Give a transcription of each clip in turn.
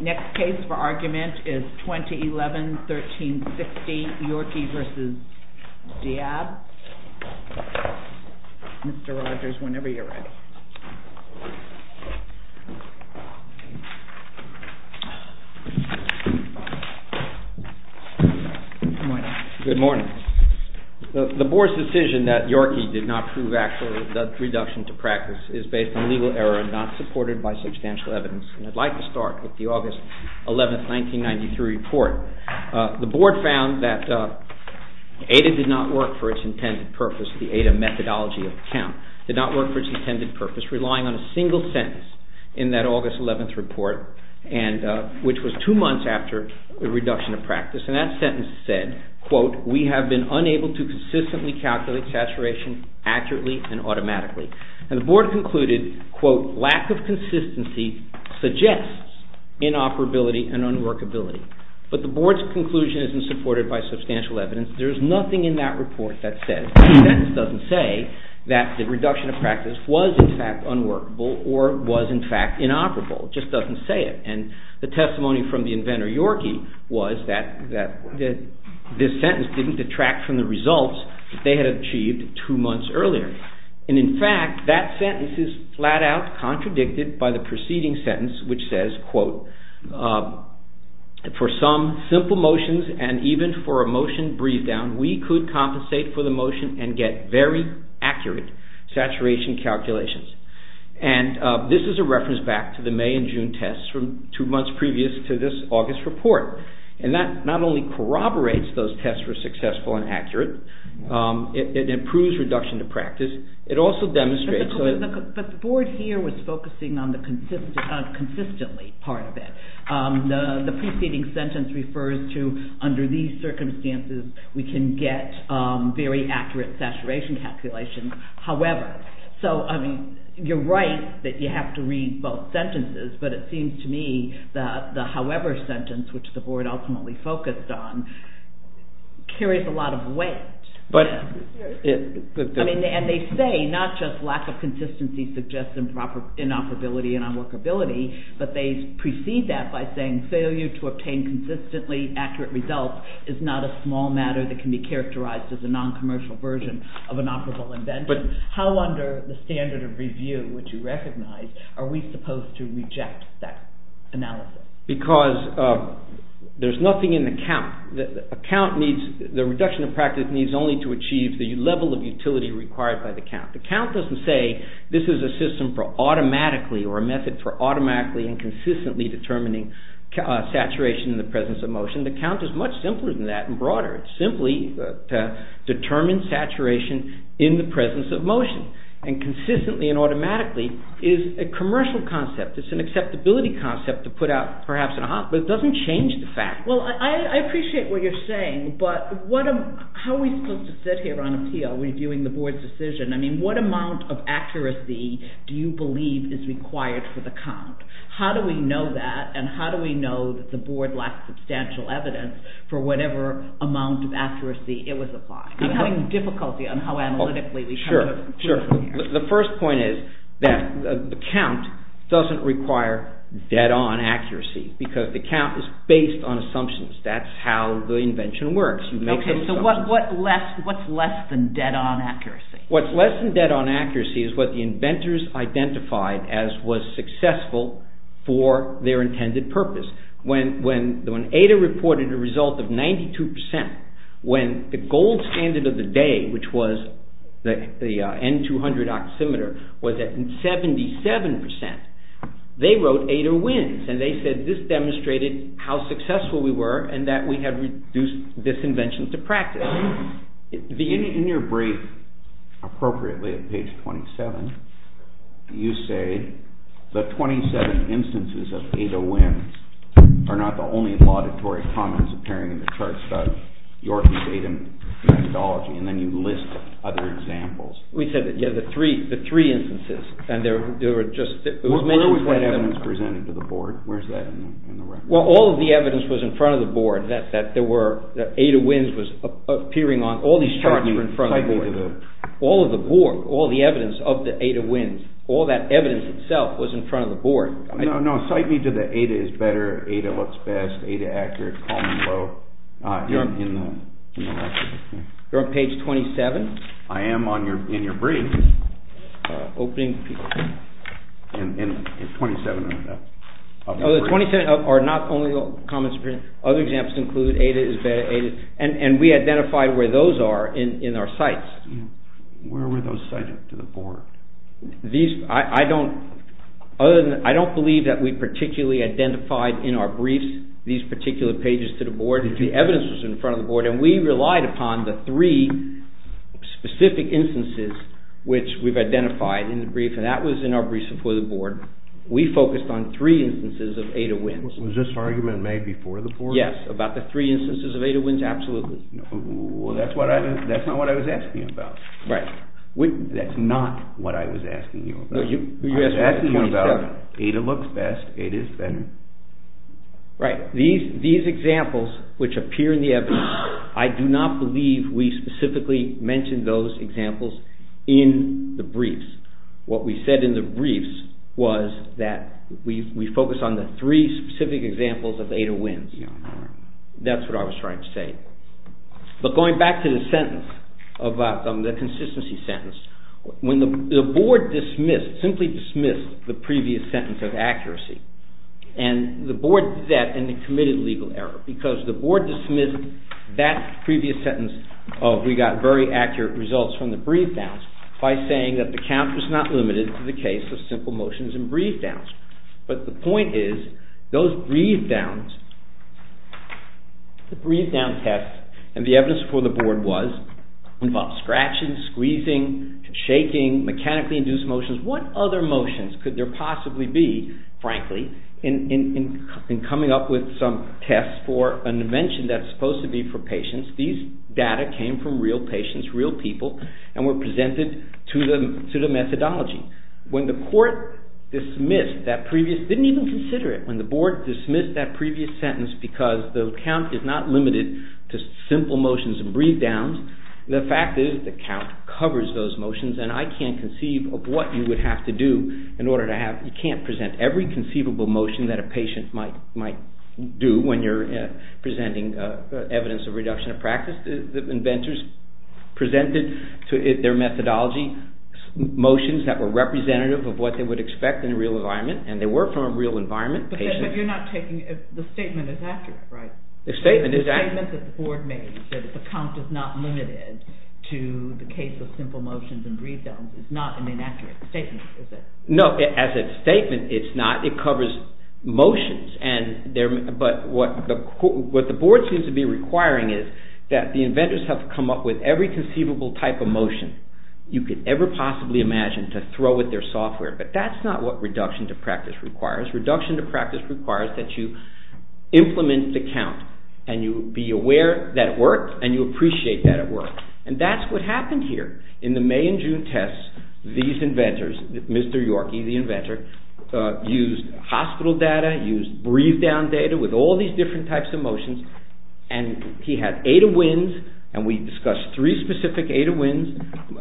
Next case for argument is 2011-1360 YORKEY v. DIAB. Mr. Rogers, whenever you're ready. Good morning. The board's decision that YORKEY did not prove actual reduction to practice is based on legal error and not supported by substantial evidence. I'd like to start with the August 11, 1993 report. The board found that ADA did not work for its intended purpose, the ADA methodology of account, did not work for its intended purpose, relying on a single sentence in that August 11th report, which was two months after the reduction of practice. And that sentence said, quote, we have been unable to consistently calculate saturation accurately and automatically. And the board concluded, quote, lack of consistency suggests inoperability and unworkability. But the board's conclusion isn't supported by substantial evidence. There's nothing in that report that says, that sentence doesn't say that the reduction of practice was, in fact, unworkable or was, in fact, inoperable. It just doesn't say it. And the testimony from the inventor YORKEY was that this sentence didn't detract from the results that they had achieved two months earlier. And in fact, that sentence is flat out contradicted by the preceding sentence, which says, quote, for some simple motions and even for a motion breathed down, we could compensate for the accurate saturation calculations. And this is a reference back to the May and June tests from two months previous to this August report. And that not only corroborates those tests were successful and accurate, it improves reduction of practice. It also demonstrates... But the board here was focusing on the consistently part of it. The preceding sentence refers to under these circumstances, we can get very accurate saturation calculations. However, so, I mean, you're right that you have to read both sentences, but it seems to me that the however sentence, which the board ultimately focused on, carries a lot of weight. And they say not just lack of consistency suggests inoperability and unworkability, but they say to obtain consistently accurate results is not a small matter that can be characterized as a non-commercial version of an operable invention. How under the standard of review, which you recognize, are we supposed to reject that analysis? Because there's nothing in the count. The reduction of practice needs only to achieve the level of utility required by the count. The count doesn't say this is a system for the presence of motion. The count is much simpler than that and broader. It's simply to determine saturation in the presence of motion. And consistently and automatically is a commercial concept. It's an acceptability concept to put out perhaps in a hospital. It doesn't change the fact. Well, I appreciate what you're saying, but how are we supposed to sit here on appeal reviewing the board's decision? I mean, what amount of accuracy do you believe is required for the count? How do we know that? And how do we know that the board lacks substantial evidence for whatever amount of accuracy it was applied? I'm having difficulty on how analytically we come to a conclusion here. The first point is that the count doesn't require dead-on accuracy because the count is based on assumptions. That's how the invention works. You make some assumptions. Okay, so what's less than dead-on accuracy? What's less than dead-on accuracy is what the inventors identified as was successful for their intended purpose. When Ada reported a result of 92 percent, when the gold standard of the day, which was the N200 oximeter, was at 77 percent, they wrote Ada wins. And they said this demonstrated how successful we were and that we had reduced this invention to practice. In your brief, appropriately at page 27, you say the 27 instances of Ada wins are not the only laudatory comments appearing in the charts about Yorkie's Ada methodology, and then you list other examples. We said that, yeah, the three instances, and there were just... Where was that evidence presented to the board? Where's that in the record? Well, all of the evidence was in front of the board, that Ada wins was appearing on... All these charts were in front of the board. All of the board, all the evidence of the Ada wins, all that evidence itself was in front of the board. No, no, cite me to the Ada is better, Ada looks best, Ada accurate, column low, in the record. You're on page 27? I am in your brief. Opening... In 27 of the... Oh, the 27 are not only the comments appearing, other examples include Ada is better, Ada, and we identified where those are in our sites. Where were those cited to the board? These, I don't, other than, I don't believe that we particularly identified in our briefs these particular pages to the board. The evidence was in front of the board, and we relied upon the three specific instances which we've identified in the brief, and that was in our briefs before the board. We focused on three instances of Ada wins. Was this argument made before the board? Yes, about the three instances of Ada wins, absolutely. Well, that's not what I was asking you about. Right. That's not what I was asking you about. I was asking you about Ada looks best, Ada is better. Right, these examples which appear in the evidence, I do not believe we specifically mentioned those examples in the briefs. What we said in the briefs was that we focus on the three specific examples of Ada wins. That's what I was trying to say. But going back to the sentence, the consistency sentence, when the board dismissed, simply dismissed the previous sentence of accuracy, and the board did that and it committed legal error, because the board dismissed that previous sentence of we got very accurate results from the brief downs by saying that the count was not limited to the case of simple motions and brief downs. But the point is, those brief downs, the brief down test, and the evidence before the board was, involved scratching, squeezing, shaking, mechanically induced motions. What other motions could there possibly be, frankly, in coming up with some test for an invention that's supposed to be for patients? These data came from real patients, real people, and were presented to the methodology. When the court dismissed that previous, didn't even consider it, when the board dismissed that previous sentence because the count is not limited to simple motions and brief downs, the fact is the count covers those motions, and I can't conceive of what you would have to do in order to have, you can't present every conceivable motion that a patient might do when you're presenting evidence of reduction of practice. The inventors presented to their methodology motions that were representative of what they would expect in a real environment, and they were from a real environment. But you're not taking, the statement is accurate, right? The statement is accurate. You said that the count is not limited to the case of simple motions and brief downs. It's not an inaccurate statement, is it? No, as a statement, it's not. It covers motions, but what the board seems to be requiring is that the inventors have come up with every conceivable type of motion you could ever possibly imagine to throw at their software, but that's not what reduction to practice requires. Reduction to practice requires that you implement the count, and you be aware that it works, and you appreciate that it works, and that's what happened here. In the May and June tests, these inventors, Mr. Yorkey, the inventor, used hospital data, used brief down data with all these different types of motions, and he had eta wins, and we discussed three specific eta wins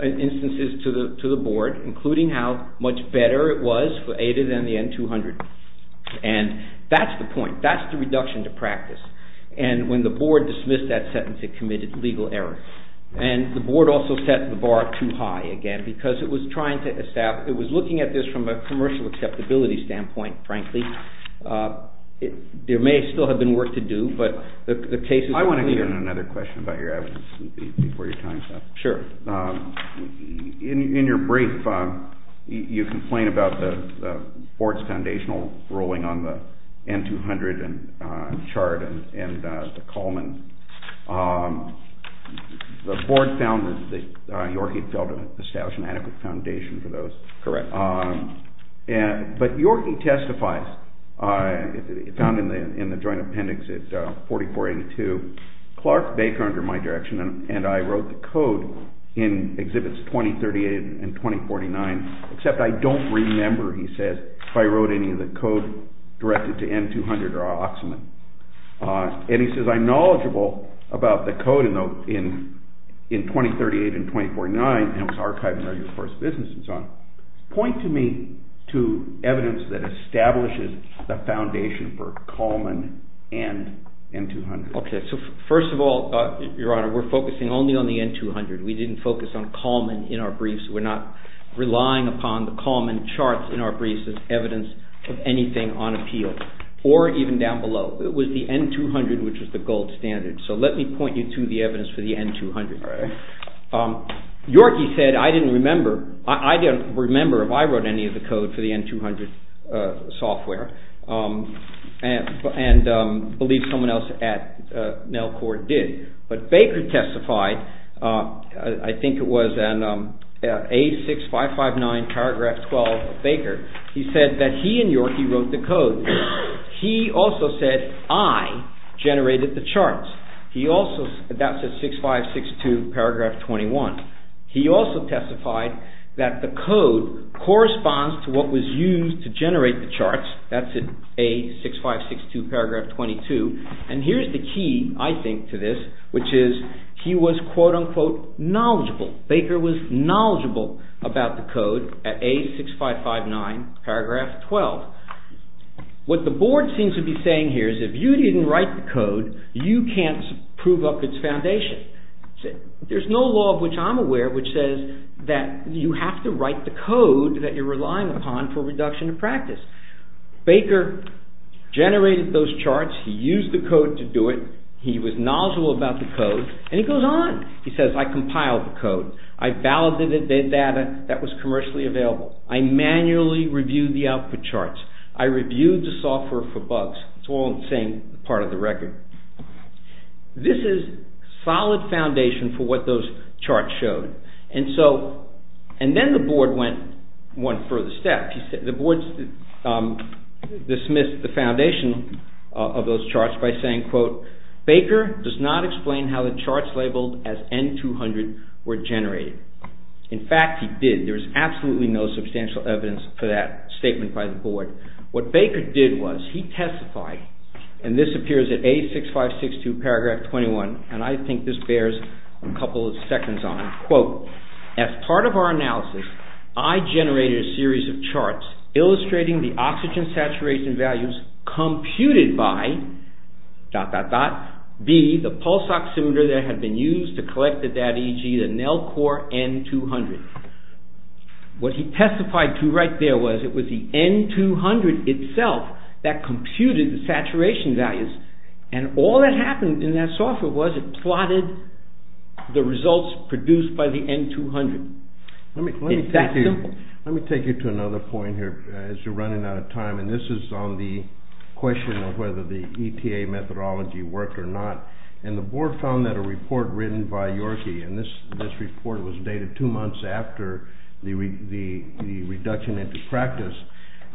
instances to the board, including how much better it was for eta than the N200, and that's the point. That's the reduction to practice, and when the board dismissed that sentence, it committed legal error. And the board also set the bar too high again because it was trying to establish, it was looking at this from a commercial acceptability standpoint, frankly. There may still have been work to do, but the case is clear. I want to get in another question about your evidence before your time's up. Sure. In your brief, you complain about the board's foundational ruling on the N200 chart and the Coleman. The board found that Yorkey felt it established an adequate foundation for those. Correct. But Yorkey testifies, found in the joint appendix at 4482, Clark Baker, under my direction, and I wrote the code in Exhibits 2038 and 2049, except I don't remember, he says, if I wrote any of the code directed to N200 or Oxman. And he says, I'm knowledgeable about the code in 2038 and 2049, and it was archived in Regular Course Business and so on. Point to me to evidence that establishes the foundation for Coleman and N200. Okay. So first of all, Your Honor, we're focusing only on the N200. We didn't focus on Coleman in our briefs. We're not relying upon the Coleman charts in our briefs as evidence of anything on appeal, or even down below. It was the N200, which was the gold standard. So let me point you to the evidence for the N200. Yorkey said, I didn't remember, I didn't remember if I wrote any of the code for the N200 software and believe someone else at NELCOR did. But Baker testified, I think it was in A6559 paragraph 12 of Baker. He said that he and Yorkey wrote the code. He also said, I generated the charts. He also, that's in 6562 paragraph 21. He also testified that the code corresponds to what was used to generate the charts. That's in A6562 paragraph 22. And here's the key, I think, to this, which is he was quote unquote knowledgeable. Baker was knowledgeable about the code at A6559 paragraph 12. What the board seems to be saying here is if you didn't write the code, you can't prove up its foundation. There's no law of which I'm aware which says that you have to write the code that you're relying upon for reduction of practice. Baker generated those charts. He used the code to do it. He was knowledgeable about the code. And he goes on. He says, I compiled the code. I validated the data that was commercially available. I manually reviewed the output charts. I reviewed the software for bugs. It's all the same part of the record. This is solid foundation for what those charts showed. And then the board went one further step. The board dismissed the foundation of those charts by saying, quote, Baker does not explain how the charts labeled as N200 were generated. In fact, he did. There's absolutely no substantial evidence for that statement by the board. What Baker did was he testified, and this appears at A6562 paragraph 21, and I think this bears a couple of seconds on it, quote, As part of our analysis, I generated a series of charts illustrating the oxygen saturation values computed by, dot, dot, dot, B, the pulse oximeter that had been used to collect the data, e.g., the NELCOR N200. What he testified to right there was it was the N200 itself that computed the saturation values. And all that happened in that software was it plotted the results produced by the N200. It's that simple. Let me take you to another point here as you're running out of time, and this is on the question of whether the ETA methodology worked or not. And the board found that a report written by Yorkie, and this report was dated two months after the reduction into practice,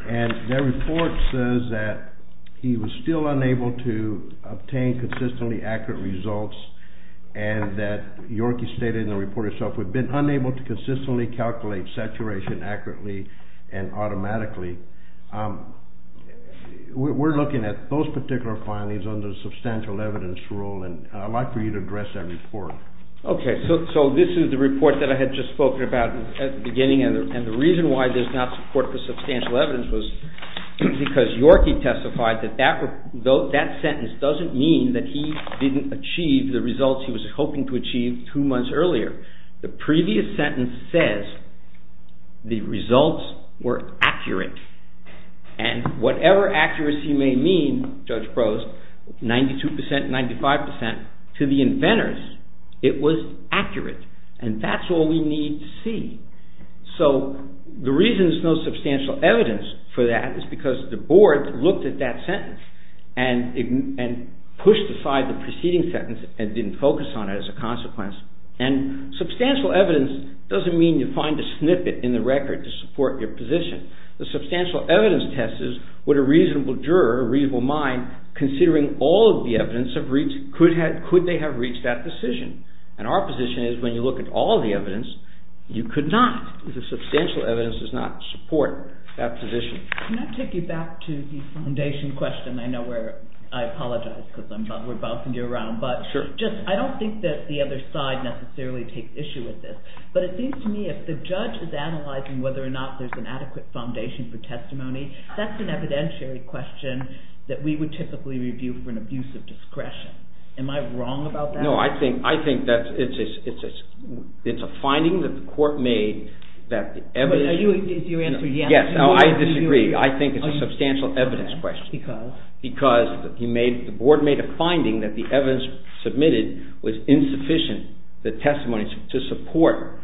and their report says that he was still unable to obtain consistently accurate results and that Yorkie stated in the report herself, We've been unable to consistently calculate saturation accurately and automatically. We're looking at those particular findings under the substantial evidence rule, and I'd like for you to address that report. Okay, so this is the report that I had just spoken about at the beginning, and the reason why there's not support for substantial evidence was because Yorkie testified that that sentence doesn't mean that he didn't achieve the results he was hoping to achieve two months earlier. The previous sentence says the results were accurate, and whatever accuracy may mean, Judge Prose, 92%, 95%, to the inventors, it was accurate. And that's all we need to see. So the reason there's no substantial evidence for that is because the board looked at that sentence and pushed aside the preceding sentence and didn't focus on it as a consequence. And substantial evidence doesn't mean you find a snippet in the record to support your position. The substantial evidence test is, would a reasonable juror, a reasonable mind, considering all of the evidence, could they have reached that decision? And our position is when you look at all of the evidence, you could not. The substantial evidence does not support that position. Can I take you back to the foundation question? I know I apologize because we're bouncing you around, but I don't think that the other side necessarily takes issue with this, but it seems to me if the judge is analyzing whether or not there's an adequate foundation for testimony, that's an evidentiary question that we would typically review for an abuse of discretion. Am I wrong about that? No, I think that it's a finding that the court made that the evidence… You answered yes. Yes, I disagree. I think it's a substantial evidence question. Because? Because the board made a finding that the evidence submitted was insufficient, the testimony, to support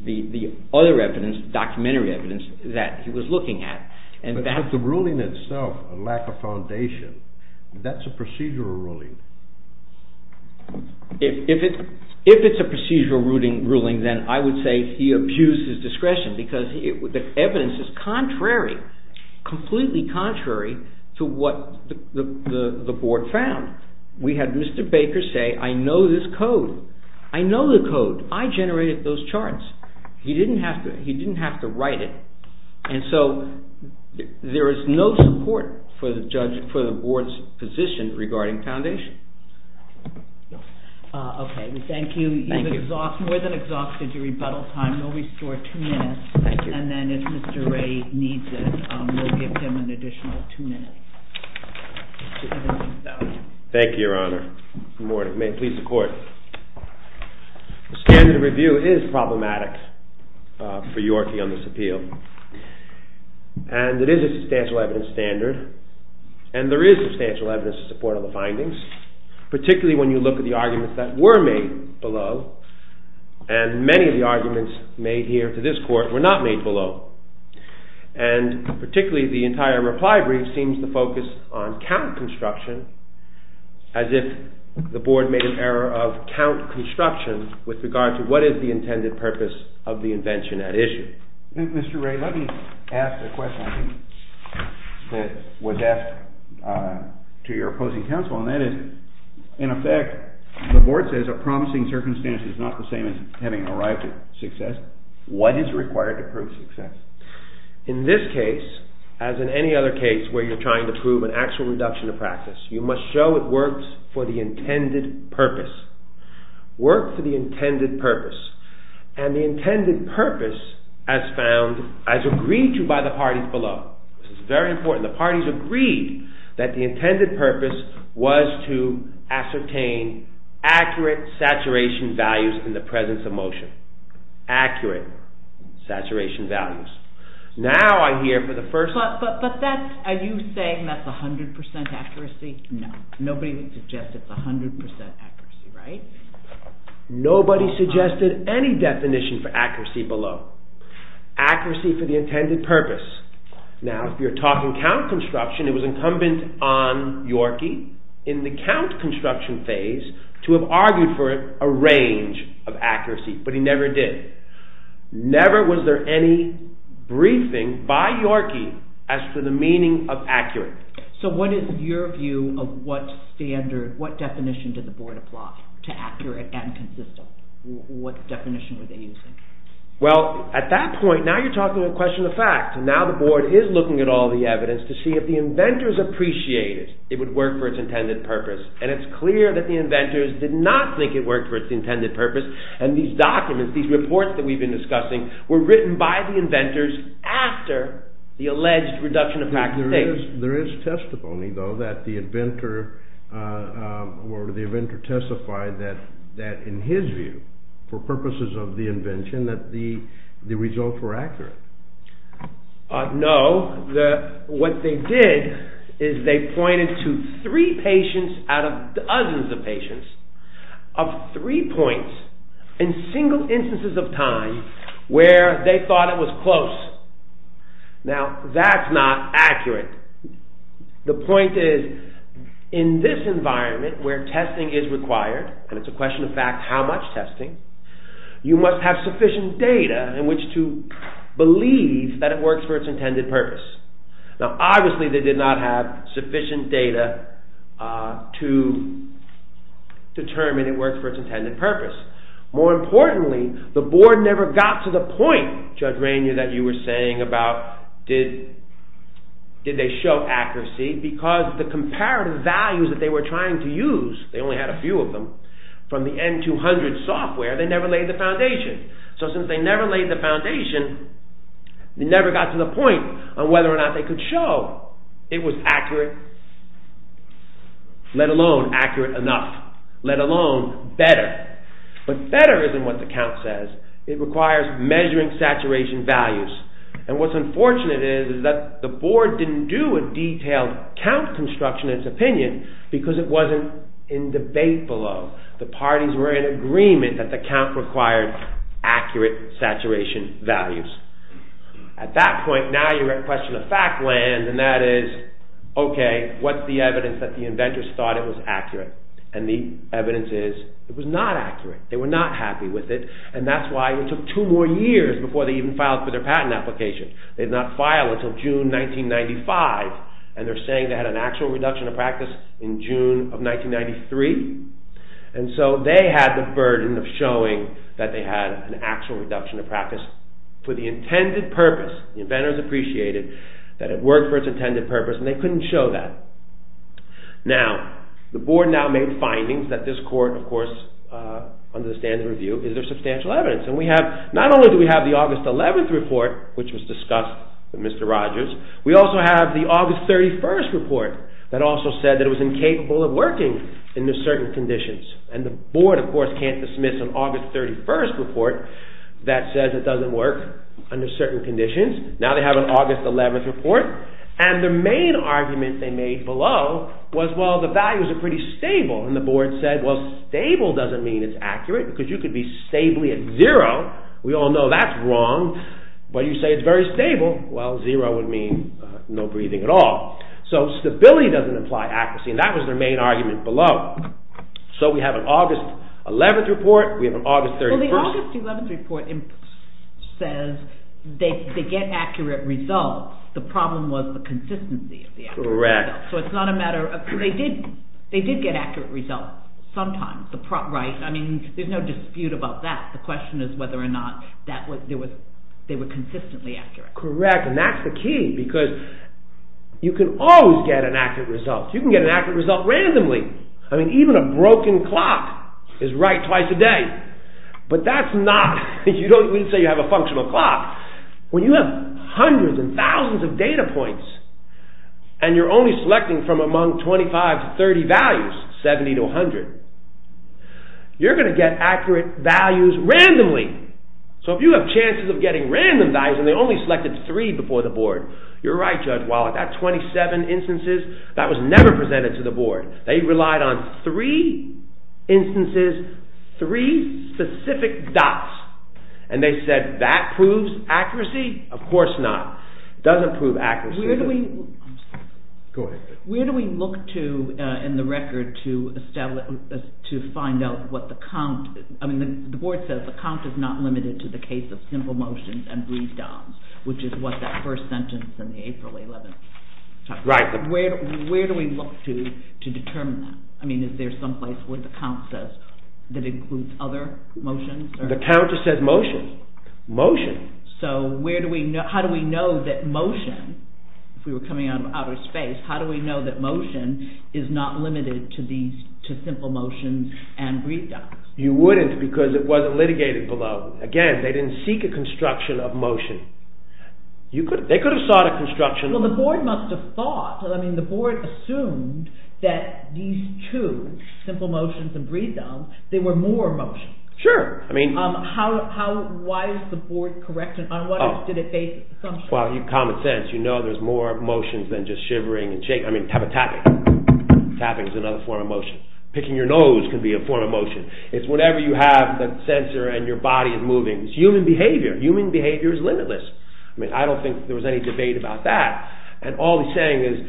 the other evidence, the documentary evidence that he was looking at. But has the ruling itself a lack of foundation? That's a procedural ruling. If it's a procedural ruling, then I would say he abused his discretion because the evidence is contrary, completely contrary to what the board found. We had Mr. Baker say, I know this code. I know the code. I generated those charts. He didn't have to write it. And so there is no support for the board's position regarding foundation. Okay, thank you. You've exhausted, more than exhausted your rebuttal time. We'll restore two minutes, and then if Mr. Ray needs it, we'll give him an additional two minutes. Thank you, Your Honor. Good morning. May it please the Court. The standard of review is problematic for your view on this appeal. And it is a substantial evidence standard, and there is substantial evidence in support of the findings, particularly when you look at the arguments that were made below, and many of the arguments made here to this Court were not made below. And particularly the entire reply brief seems to focus on count construction, as if the board made an error of count construction with regard to what is the intended purpose of the invention at issue. Mr. Ray, let me ask a question that was asked to your opposing counsel, and that is, in effect, the board says a promising circumstance is not the same as having arrived at success. What is required to prove success? In this case, as in any other case where you're trying to prove an actual reduction of practice, you must show it works for the intended purpose. Works for the intended purpose. And the intended purpose, as found, as agreed to by the parties below, this is very important, the parties agreed that the intended purpose was to ascertain accurate saturation values in the presence of motion. Accurate saturation values. But are you saying that's 100% accuracy? No, nobody suggested 100% accuracy, right? Nobody suggested any definition for accuracy below. Accuracy for the intended purpose. Now, if you're talking count construction, it was incumbent on Yorkie, in the count construction phase, to have argued for a range of accuracy, but he never did. Never was there any briefing by Yorkie as to the meaning of accurate. So what is your view of what standard, what definition did the board apply to accurate and consistent? What definition were they using? Well, at that point, now you're talking a question of fact. Now the board is looking at all the evidence to see if the inventors appreciate it, it would work for its intended purpose, and it's clear that the inventors did not think it worked for its intended purpose, and these documents, these reports that we've been discussing, were written by the inventors after the alleged reduction of practicality. There is testimony, though, that the inventor testified that in his view, for purposes of the invention, that the results were accurate. No, what they did is they pointed to three patients out of dozens of patients of three points in single instances of time where they thought it was close. Now, that's not accurate. The point is, in this environment where testing is required, and it's a question of fact how much testing, you must have sufficient data in which to believe that it works for its intended purpose. Now, obviously they did not have sufficient data to determine it worked for its intended purpose. More importantly, the board never got to the point, Judge Rainier, that you were saying about did they show accuracy, because the comparative values that they were trying to use, they only had a few of them, from the N200 software, they never laid the foundation. So since they never laid the foundation, they never got to the point on whether or not they could show it was accurate, let alone accurate enough, let alone better. But better isn't what the count says. It requires measuring saturation values. And what's unfortunate is that the board didn't do a detailed count construction in its opinion because it wasn't in debate below. The parties were in agreement that the count required accurate saturation values. At that point, now you're in a question of fact land, and that is, okay, what's the evidence that the inventors thought it was accurate? And the evidence is, it was not accurate. They were not happy with it, and that's why it took two more years before they even filed for their patent application. They did not file until June 1995, and they're saying they had an actual reduction of practice in June of 1993. And so they had the burden of showing that they had an actual reduction of practice for the intended purpose. The inventors appreciated that it worked for its intended purpose, and they couldn't show that. Now, the board now made findings that this court, of course, under the standard review, is there substantial evidence. And we have, not only do we have the August 11th report, which was discussed with Mr. Rogers, we also have the August 31st report that also said that it was incapable of working under certain conditions. And the board, of course, can't dismiss an August 31st report that says it doesn't work under certain conditions. Now they have an August 11th report, and the main argument they made below was, well, the values are pretty stable. And the board said, well, stable doesn't mean it's accurate, because you could be stably at zero. We all know that's wrong. But you say it's very stable. Well, zero would mean no breathing at all. So stability doesn't imply accuracy. And that was their main argument below. So we have an August 11th report. We have an August 31st report. Well, the August 11th report says they get accurate results. The problem was the consistency of the accurate results. Correct. So it's not a matter of – they did get accurate results sometimes. I mean, there's no dispute about that. The question is whether or not they were consistently accurate. Correct, and that's the key, because you can always get an accurate result. You can get an accurate result randomly. I mean, even a broken clock is right twice a day. But that's not – we don't say you have a functional clock. When you have hundreds and thousands of data points, and you're only selecting from among 25 to 30 values, 70 to 100, you're going to get accurate values randomly. So if you have chances of getting random values, and they only selected three before the board, you're right, Judge Wallach, that 27 instances, that was never presented to the board. They relied on three instances, three specific dots. And they said that proves accuracy? Of course not. It doesn't prove accuracy. Where do we – I'm sorry. Go ahead. Where do we look to in the record to establish – to find out what the count – I mean, the board says the count is not limited to the case of simple motions and breathe-downs, which is what that first sentence in the April 11th – Right. Where do we look to to determine that? I mean, is there some place where the count says that includes other motions? The count just says motion. Motion. So how do we know that motion, if we were coming out of outer space, how do we know that motion is not limited to simple motions and breathe-downs? You wouldn't because it wasn't litigated below. Again, they didn't seek a construction of motion. They could have sought a construction – Well, the board must have thought – I mean, the board assumed that these two, simple motions and breathe-downs, they were more motions. Sure. I mean – Why is the board correct? On what did it base assumptions? Well, common sense. You know there's more motions than just shivering and shaking. I mean, tapping. Tapping is another form of motion. Picking your nose can be a form of motion. It's whenever you have the sensor and your body is moving. It's human behavior. Human behavior is limitless. I mean, I don't think there was any debate about that. And all he's saying is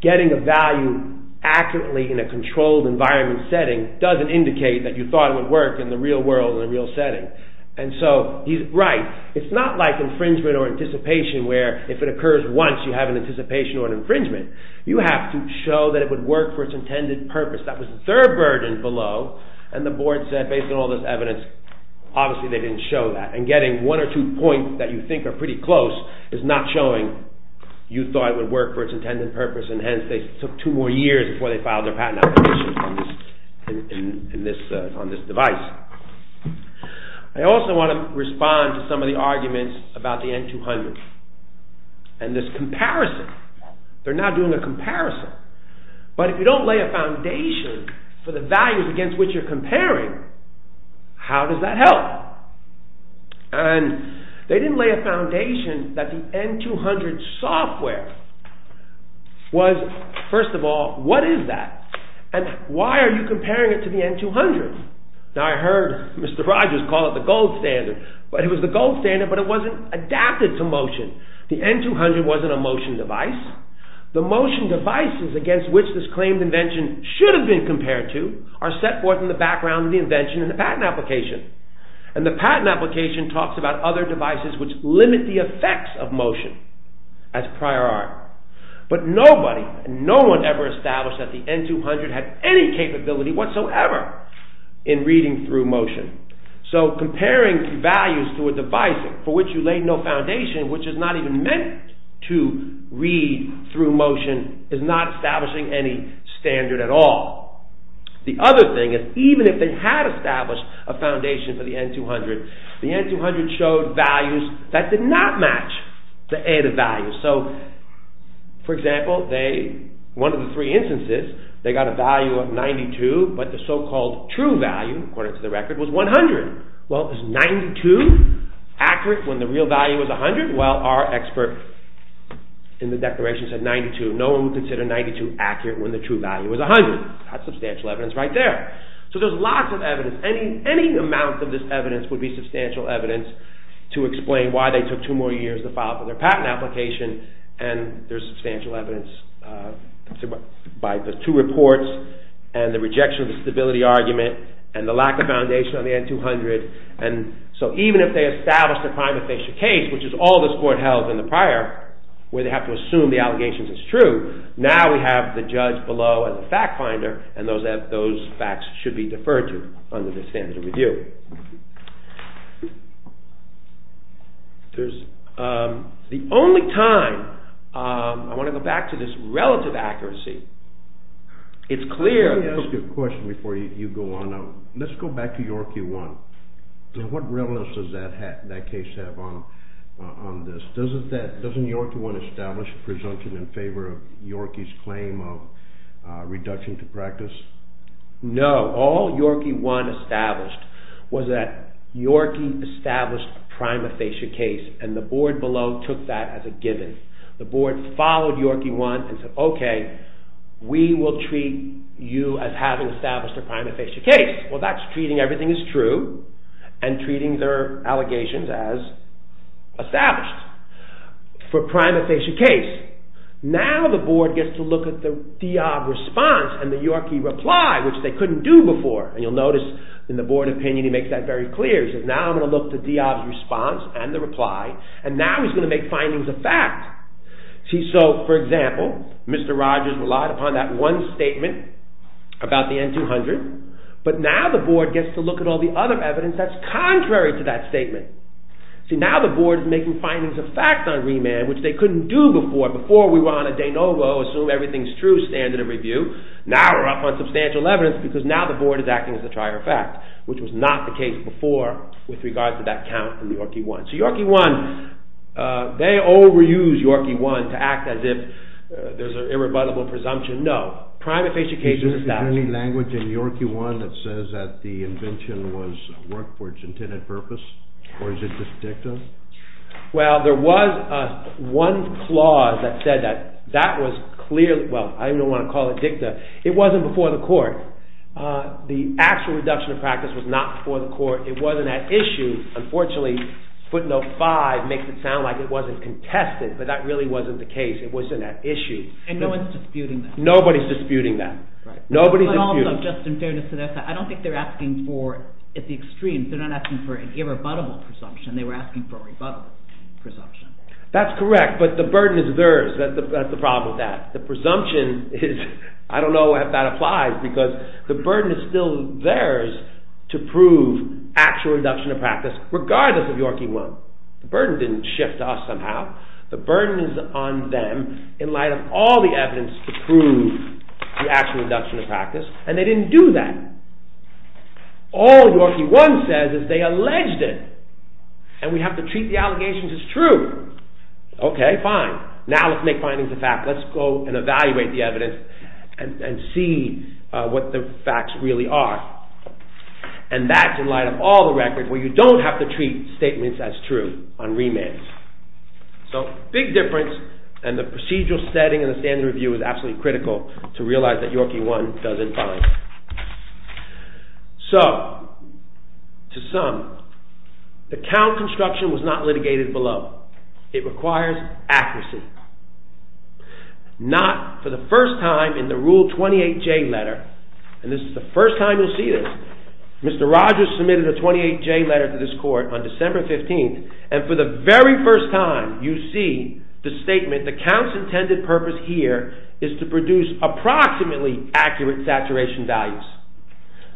getting a value accurately in a controlled environment setting doesn't indicate that you thought it would work in the real world in a real setting. And so he's right. It's not like infringement or anticipation where if it occurs once you have an anticipation or an infringement. You have to show that it would work for its intended purpose. That was the third burden below, and the board said based on all this evidence, obviously they didn't show that. And getting one or two points that you think are pretty close is not showing you thought it would work for its intended purpose, and hence they took two more years before they filed their patent application on this device. I also want to respond to some of the arguments about the N200 and this comparison. They're now doing a comparison. But if you don't lay a foundation for the values against which you're comparing, how does that help? And they didn't lay a foundation that the N200 software was, first of all, what is that? And why are you comparing it to the N200? Now I heard Mr. Rogers call it the gold standard, but it was the gold standard but it wasn't adapted to motion. The N200 wasn't a motion device. The motion devices against which this claimed invention should have been compared to are set forth in the background of the invention and the patent application. And the patent application talks about other devices which limit the effects of motion as prior art. But nobody, no one ever established that the N200 had any capability whatsoever in reading through motion. So comparing values to a device for which you laid no foundation, which is not even meant to read through motion, is not establishing any standard at all. The other thing is, even if they had established a foundation for the N200, the N200 showed values that did not match the ADA values. So, for example, one of the three instances, they got a value of 92, but the so-called true value, according to the record, was 100. Well, is 92 accurate when the real value is 100? Well, our expert in the declaration said 92. No one would consider 92 accurate when the true value is 100. That's substantial evidence right there. So there's lots of evidence. Any amount of this evidence would be substantial evidence to explain why they took two more years to file for their patent application. And there's substantial evidence by the two reports and the rejection of the stability argument and the lack of foundation on the N200. And so even if they established a prima facie case, which is all this court held in the prior, where they have to assume the allegations is true, now we have the judge below as a fact finder, and those facts should be deferred to under the standard of review. The only time, I want to go back to this relative accuracy. It's clear. Let me ask you a question before you go on. Let's go back to York v. 1. What realness does that case have on this? Doesn't York v. 1 establish a presumption in favor of York v. 1's claim of reduction to practice? No. All York v. 1 established was that York v. 1 established a prima facie case, and the board below took that as a given. The board followed York v. 1 and said, okay, we will treat you as having established a prima facie case. Well, that's treating everything as true and treating their allegations as established for a prima facie case. Now the board gets to look at the Diab's response and the York v. 1 reply, which they couldn't do before. And you'll notice in the board opinion he makes that very clear. He says, now I'm going to look at the Diab's response and the reply, and now he's going to make findings of fact. See, so for example, Mr. Rogers relied upon that one statement about the N200, but now the board gets to look at all the other evidence that's contrary to that statement. See, now the board is making findings of fact on remand, which they couldn't do before. Before we were on a de novo, assume everything's true standard of review. Now we're up on substantial evidence because now the board is acting as a trier of fact, which was not the case before with regard to that count from York v. 1. So York v. 1, they overuse York v. 1 to act as if there's an irrebuttable presumption. No. Prima facie case is established. Is there any language in York v. 1 that says that the invention was worked for its intended purpose, or is it just dicta? Well, there was one clause that said that that was clearly—well, I don't even want to call it dicta. It wasn't before the court. The actual reduction of practice was not before the court. It wasn't at issue. Unfortunately, footnote 5 makes it sound like it wasn't contested, but that really wasn't the case. It wasn't at issue. And no one's disputing that. Nobody's disputing that. But also, just in fairness to their side, I don't think they're asking for—at the extreme, they're not asking for an irrebuttable presumption. They were asking for a rebuttable presumption. That's correct, but the burden is theirs. That's the problem with that. The presumption is—I don't know if that applies, because the burden is still theirs to prove actual reduction of practice, regardless of York v. 1. The burden didn't shift to us somehow. The burden is on them in light of all the evidence to prove the actual reduction of practice, and they didn't do that. All York v. 1 says is they alleged it, and we have to treat the allegations as true. Okay, fine. Now let's make findings of fact. Let's go and evaluate the evidence and see what the facts really are. And that's in light of all the records where you don't have to treat statements as true on remands. So, big difference, and the procedural setting in the standard review is absolutely critical to realize that York v. 1 does it fine. So, to sum, the count construction was not litigated below. It requires accuracy. Not for the first time in the Rule 28J letter, and this is the first time you'll see this, Mr. Rogers submitted a 28J letter to this court on December 15th, and for the very first time you see the statement, the count's intended purpose here is to produce approximately accurate saturation values.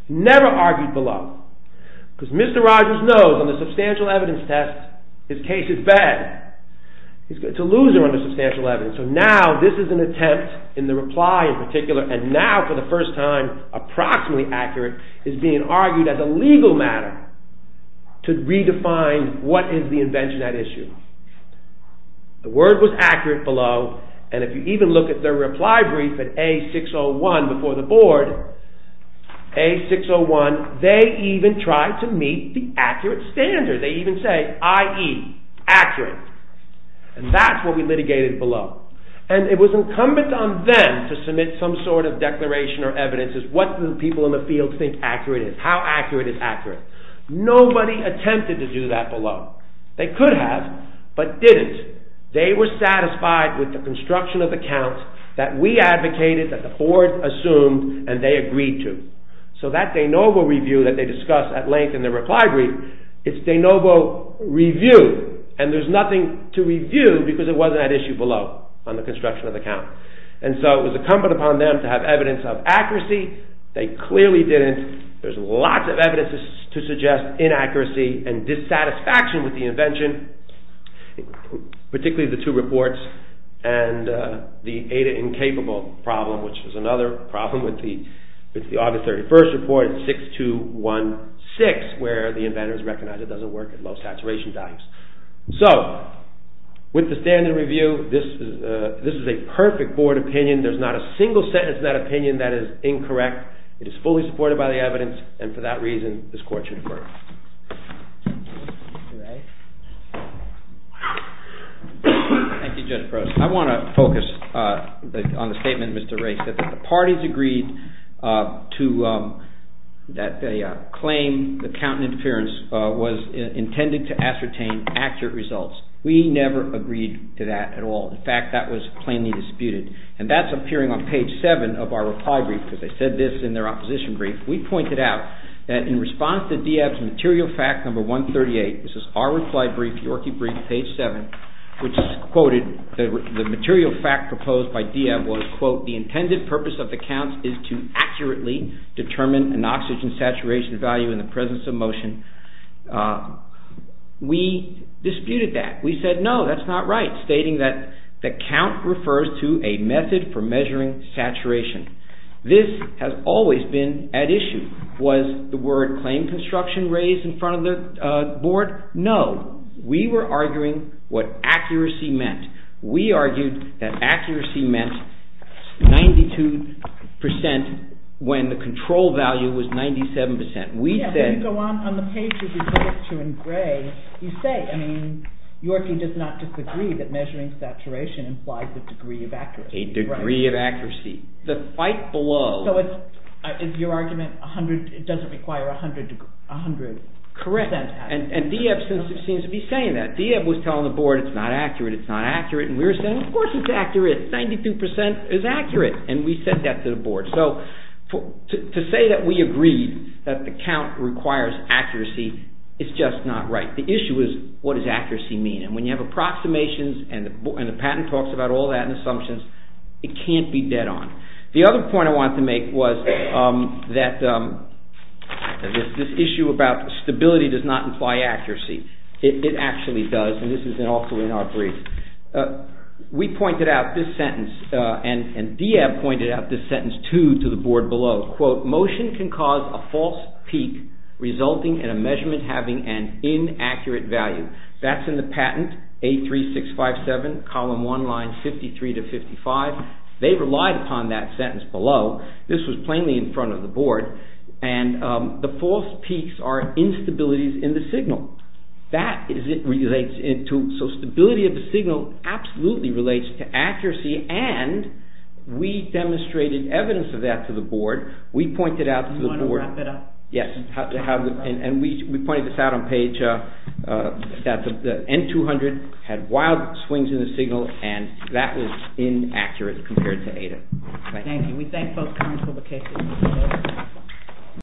Never argued below, because Mr. Rogers knows on the substantial evidence test his case is bad. It's a loser on the substantial evidence, so now this is an attempt in the reply in particular, and now for the first time, approximately accurate, is being argued as a legal matter to redefine what is the invention at issue. The word was accurate below, and if you even look at the reply brief at A601 before the board, A601, they even tried to meet the accurate standard. They even say, i.e., accurate, and that's what we litigated below, and it was incumbent on them to submit some sort of declaration or evidence as to what people in the field think accurate is, how accurate is accurate. Nobody attempted to do that below. They could have, but didn't. They were satisfied with the construction of the count that we advocated, that the board assumed, and they agreed to. So that de novo review that they discussed at length in the reply brief is de novo review, and there's nothing to review because it wasn't at issue below on the construction of the count. And so it was incumbent upon them to have evidence of accuracy. They clearly didn't. There's lots of evidence to suggest inaccuracy and dissatisfaction with the invention, particularly the two reports and the Ada-incapable problem, which is another problem with the August 31st report at 6216 where the inventors recognized it doesn't work at low saturation times. So with the standard review, this is a perfect board opinion. There's not a single sentence in that opinion that is incorrect. It is fully supported by the evidence, and for that reason this court should defer. Thank you, Judge Gross. I want to focus on the statement Mr. Wray said, that the parties agreed that they claimed the count interference was intended to ascertain accurate results. We never agreed to that at all. In fact, that was plainly disputed, and that's appearing on page 7 of our reply brief because they said this in their opposition brief. We pointed out that in response to Dieb's material fact number 138, this is our reply brief, Yorkie brief, page 7, which is quoted, the material fact proposed by Dieb was, quote, the intended purpose of the count is to accurately determine an oxygen saturation value in the presence of motion. We disputed that. We said, no, that's not right, stating that the count refers to a method for measuring saturation. This has always been at issue. Was the word claim construction raised in front of the board? No. We were arguing what accuracy meant. We argued that accuracy meant 92 percent when the control value was 97 percent. We said- Yeah, but you go on, on the page that you point to in gray, you say, I mean, Yorkie does not disagree that measuring saturation implies a degree of accuracy. A degree of accuracy. The fight below- So it's, is your argument a hundred, it doesn't require a hundred percent accuracy. Correct, and Dieb seems to be saying that. Dieb was telling the board, it's not accurate, it's not accurate, and we were saying, of course it's accurate. 92 percent is accurate, and we said that to the board. So to say that we agreed that the count requires accuracy is just not right. The issue is, what does accuracy mean? And when you have approximations, and the patent talks about all that and assumptions, it can't be dead on. The other point I wanted to make was that this issue about stability does not imply accuracy. It actually does, and this is also in our brief. We pointed out this sentence, and Dieb pointed out this sentence, too, to the board below. Quote, motion can cause a false peak resulting in a measurement having an inaccurate value. That's in the patent, 83657, column 1, line 53 to 55. They relied upon that sentence below. This was plainly in front of the board. And the false peaks are instabilities in the signal. So stability of the signal absolutely relates to accuracy, and we demonstrated evidence of that to the board. We pointed out to the board... Do you want to wrap it up? Yes. And we pointed this out on page... that the N200 had wild swings in the signal, and that was inaccurate compared to Ada. Thank you. We thank both current publications.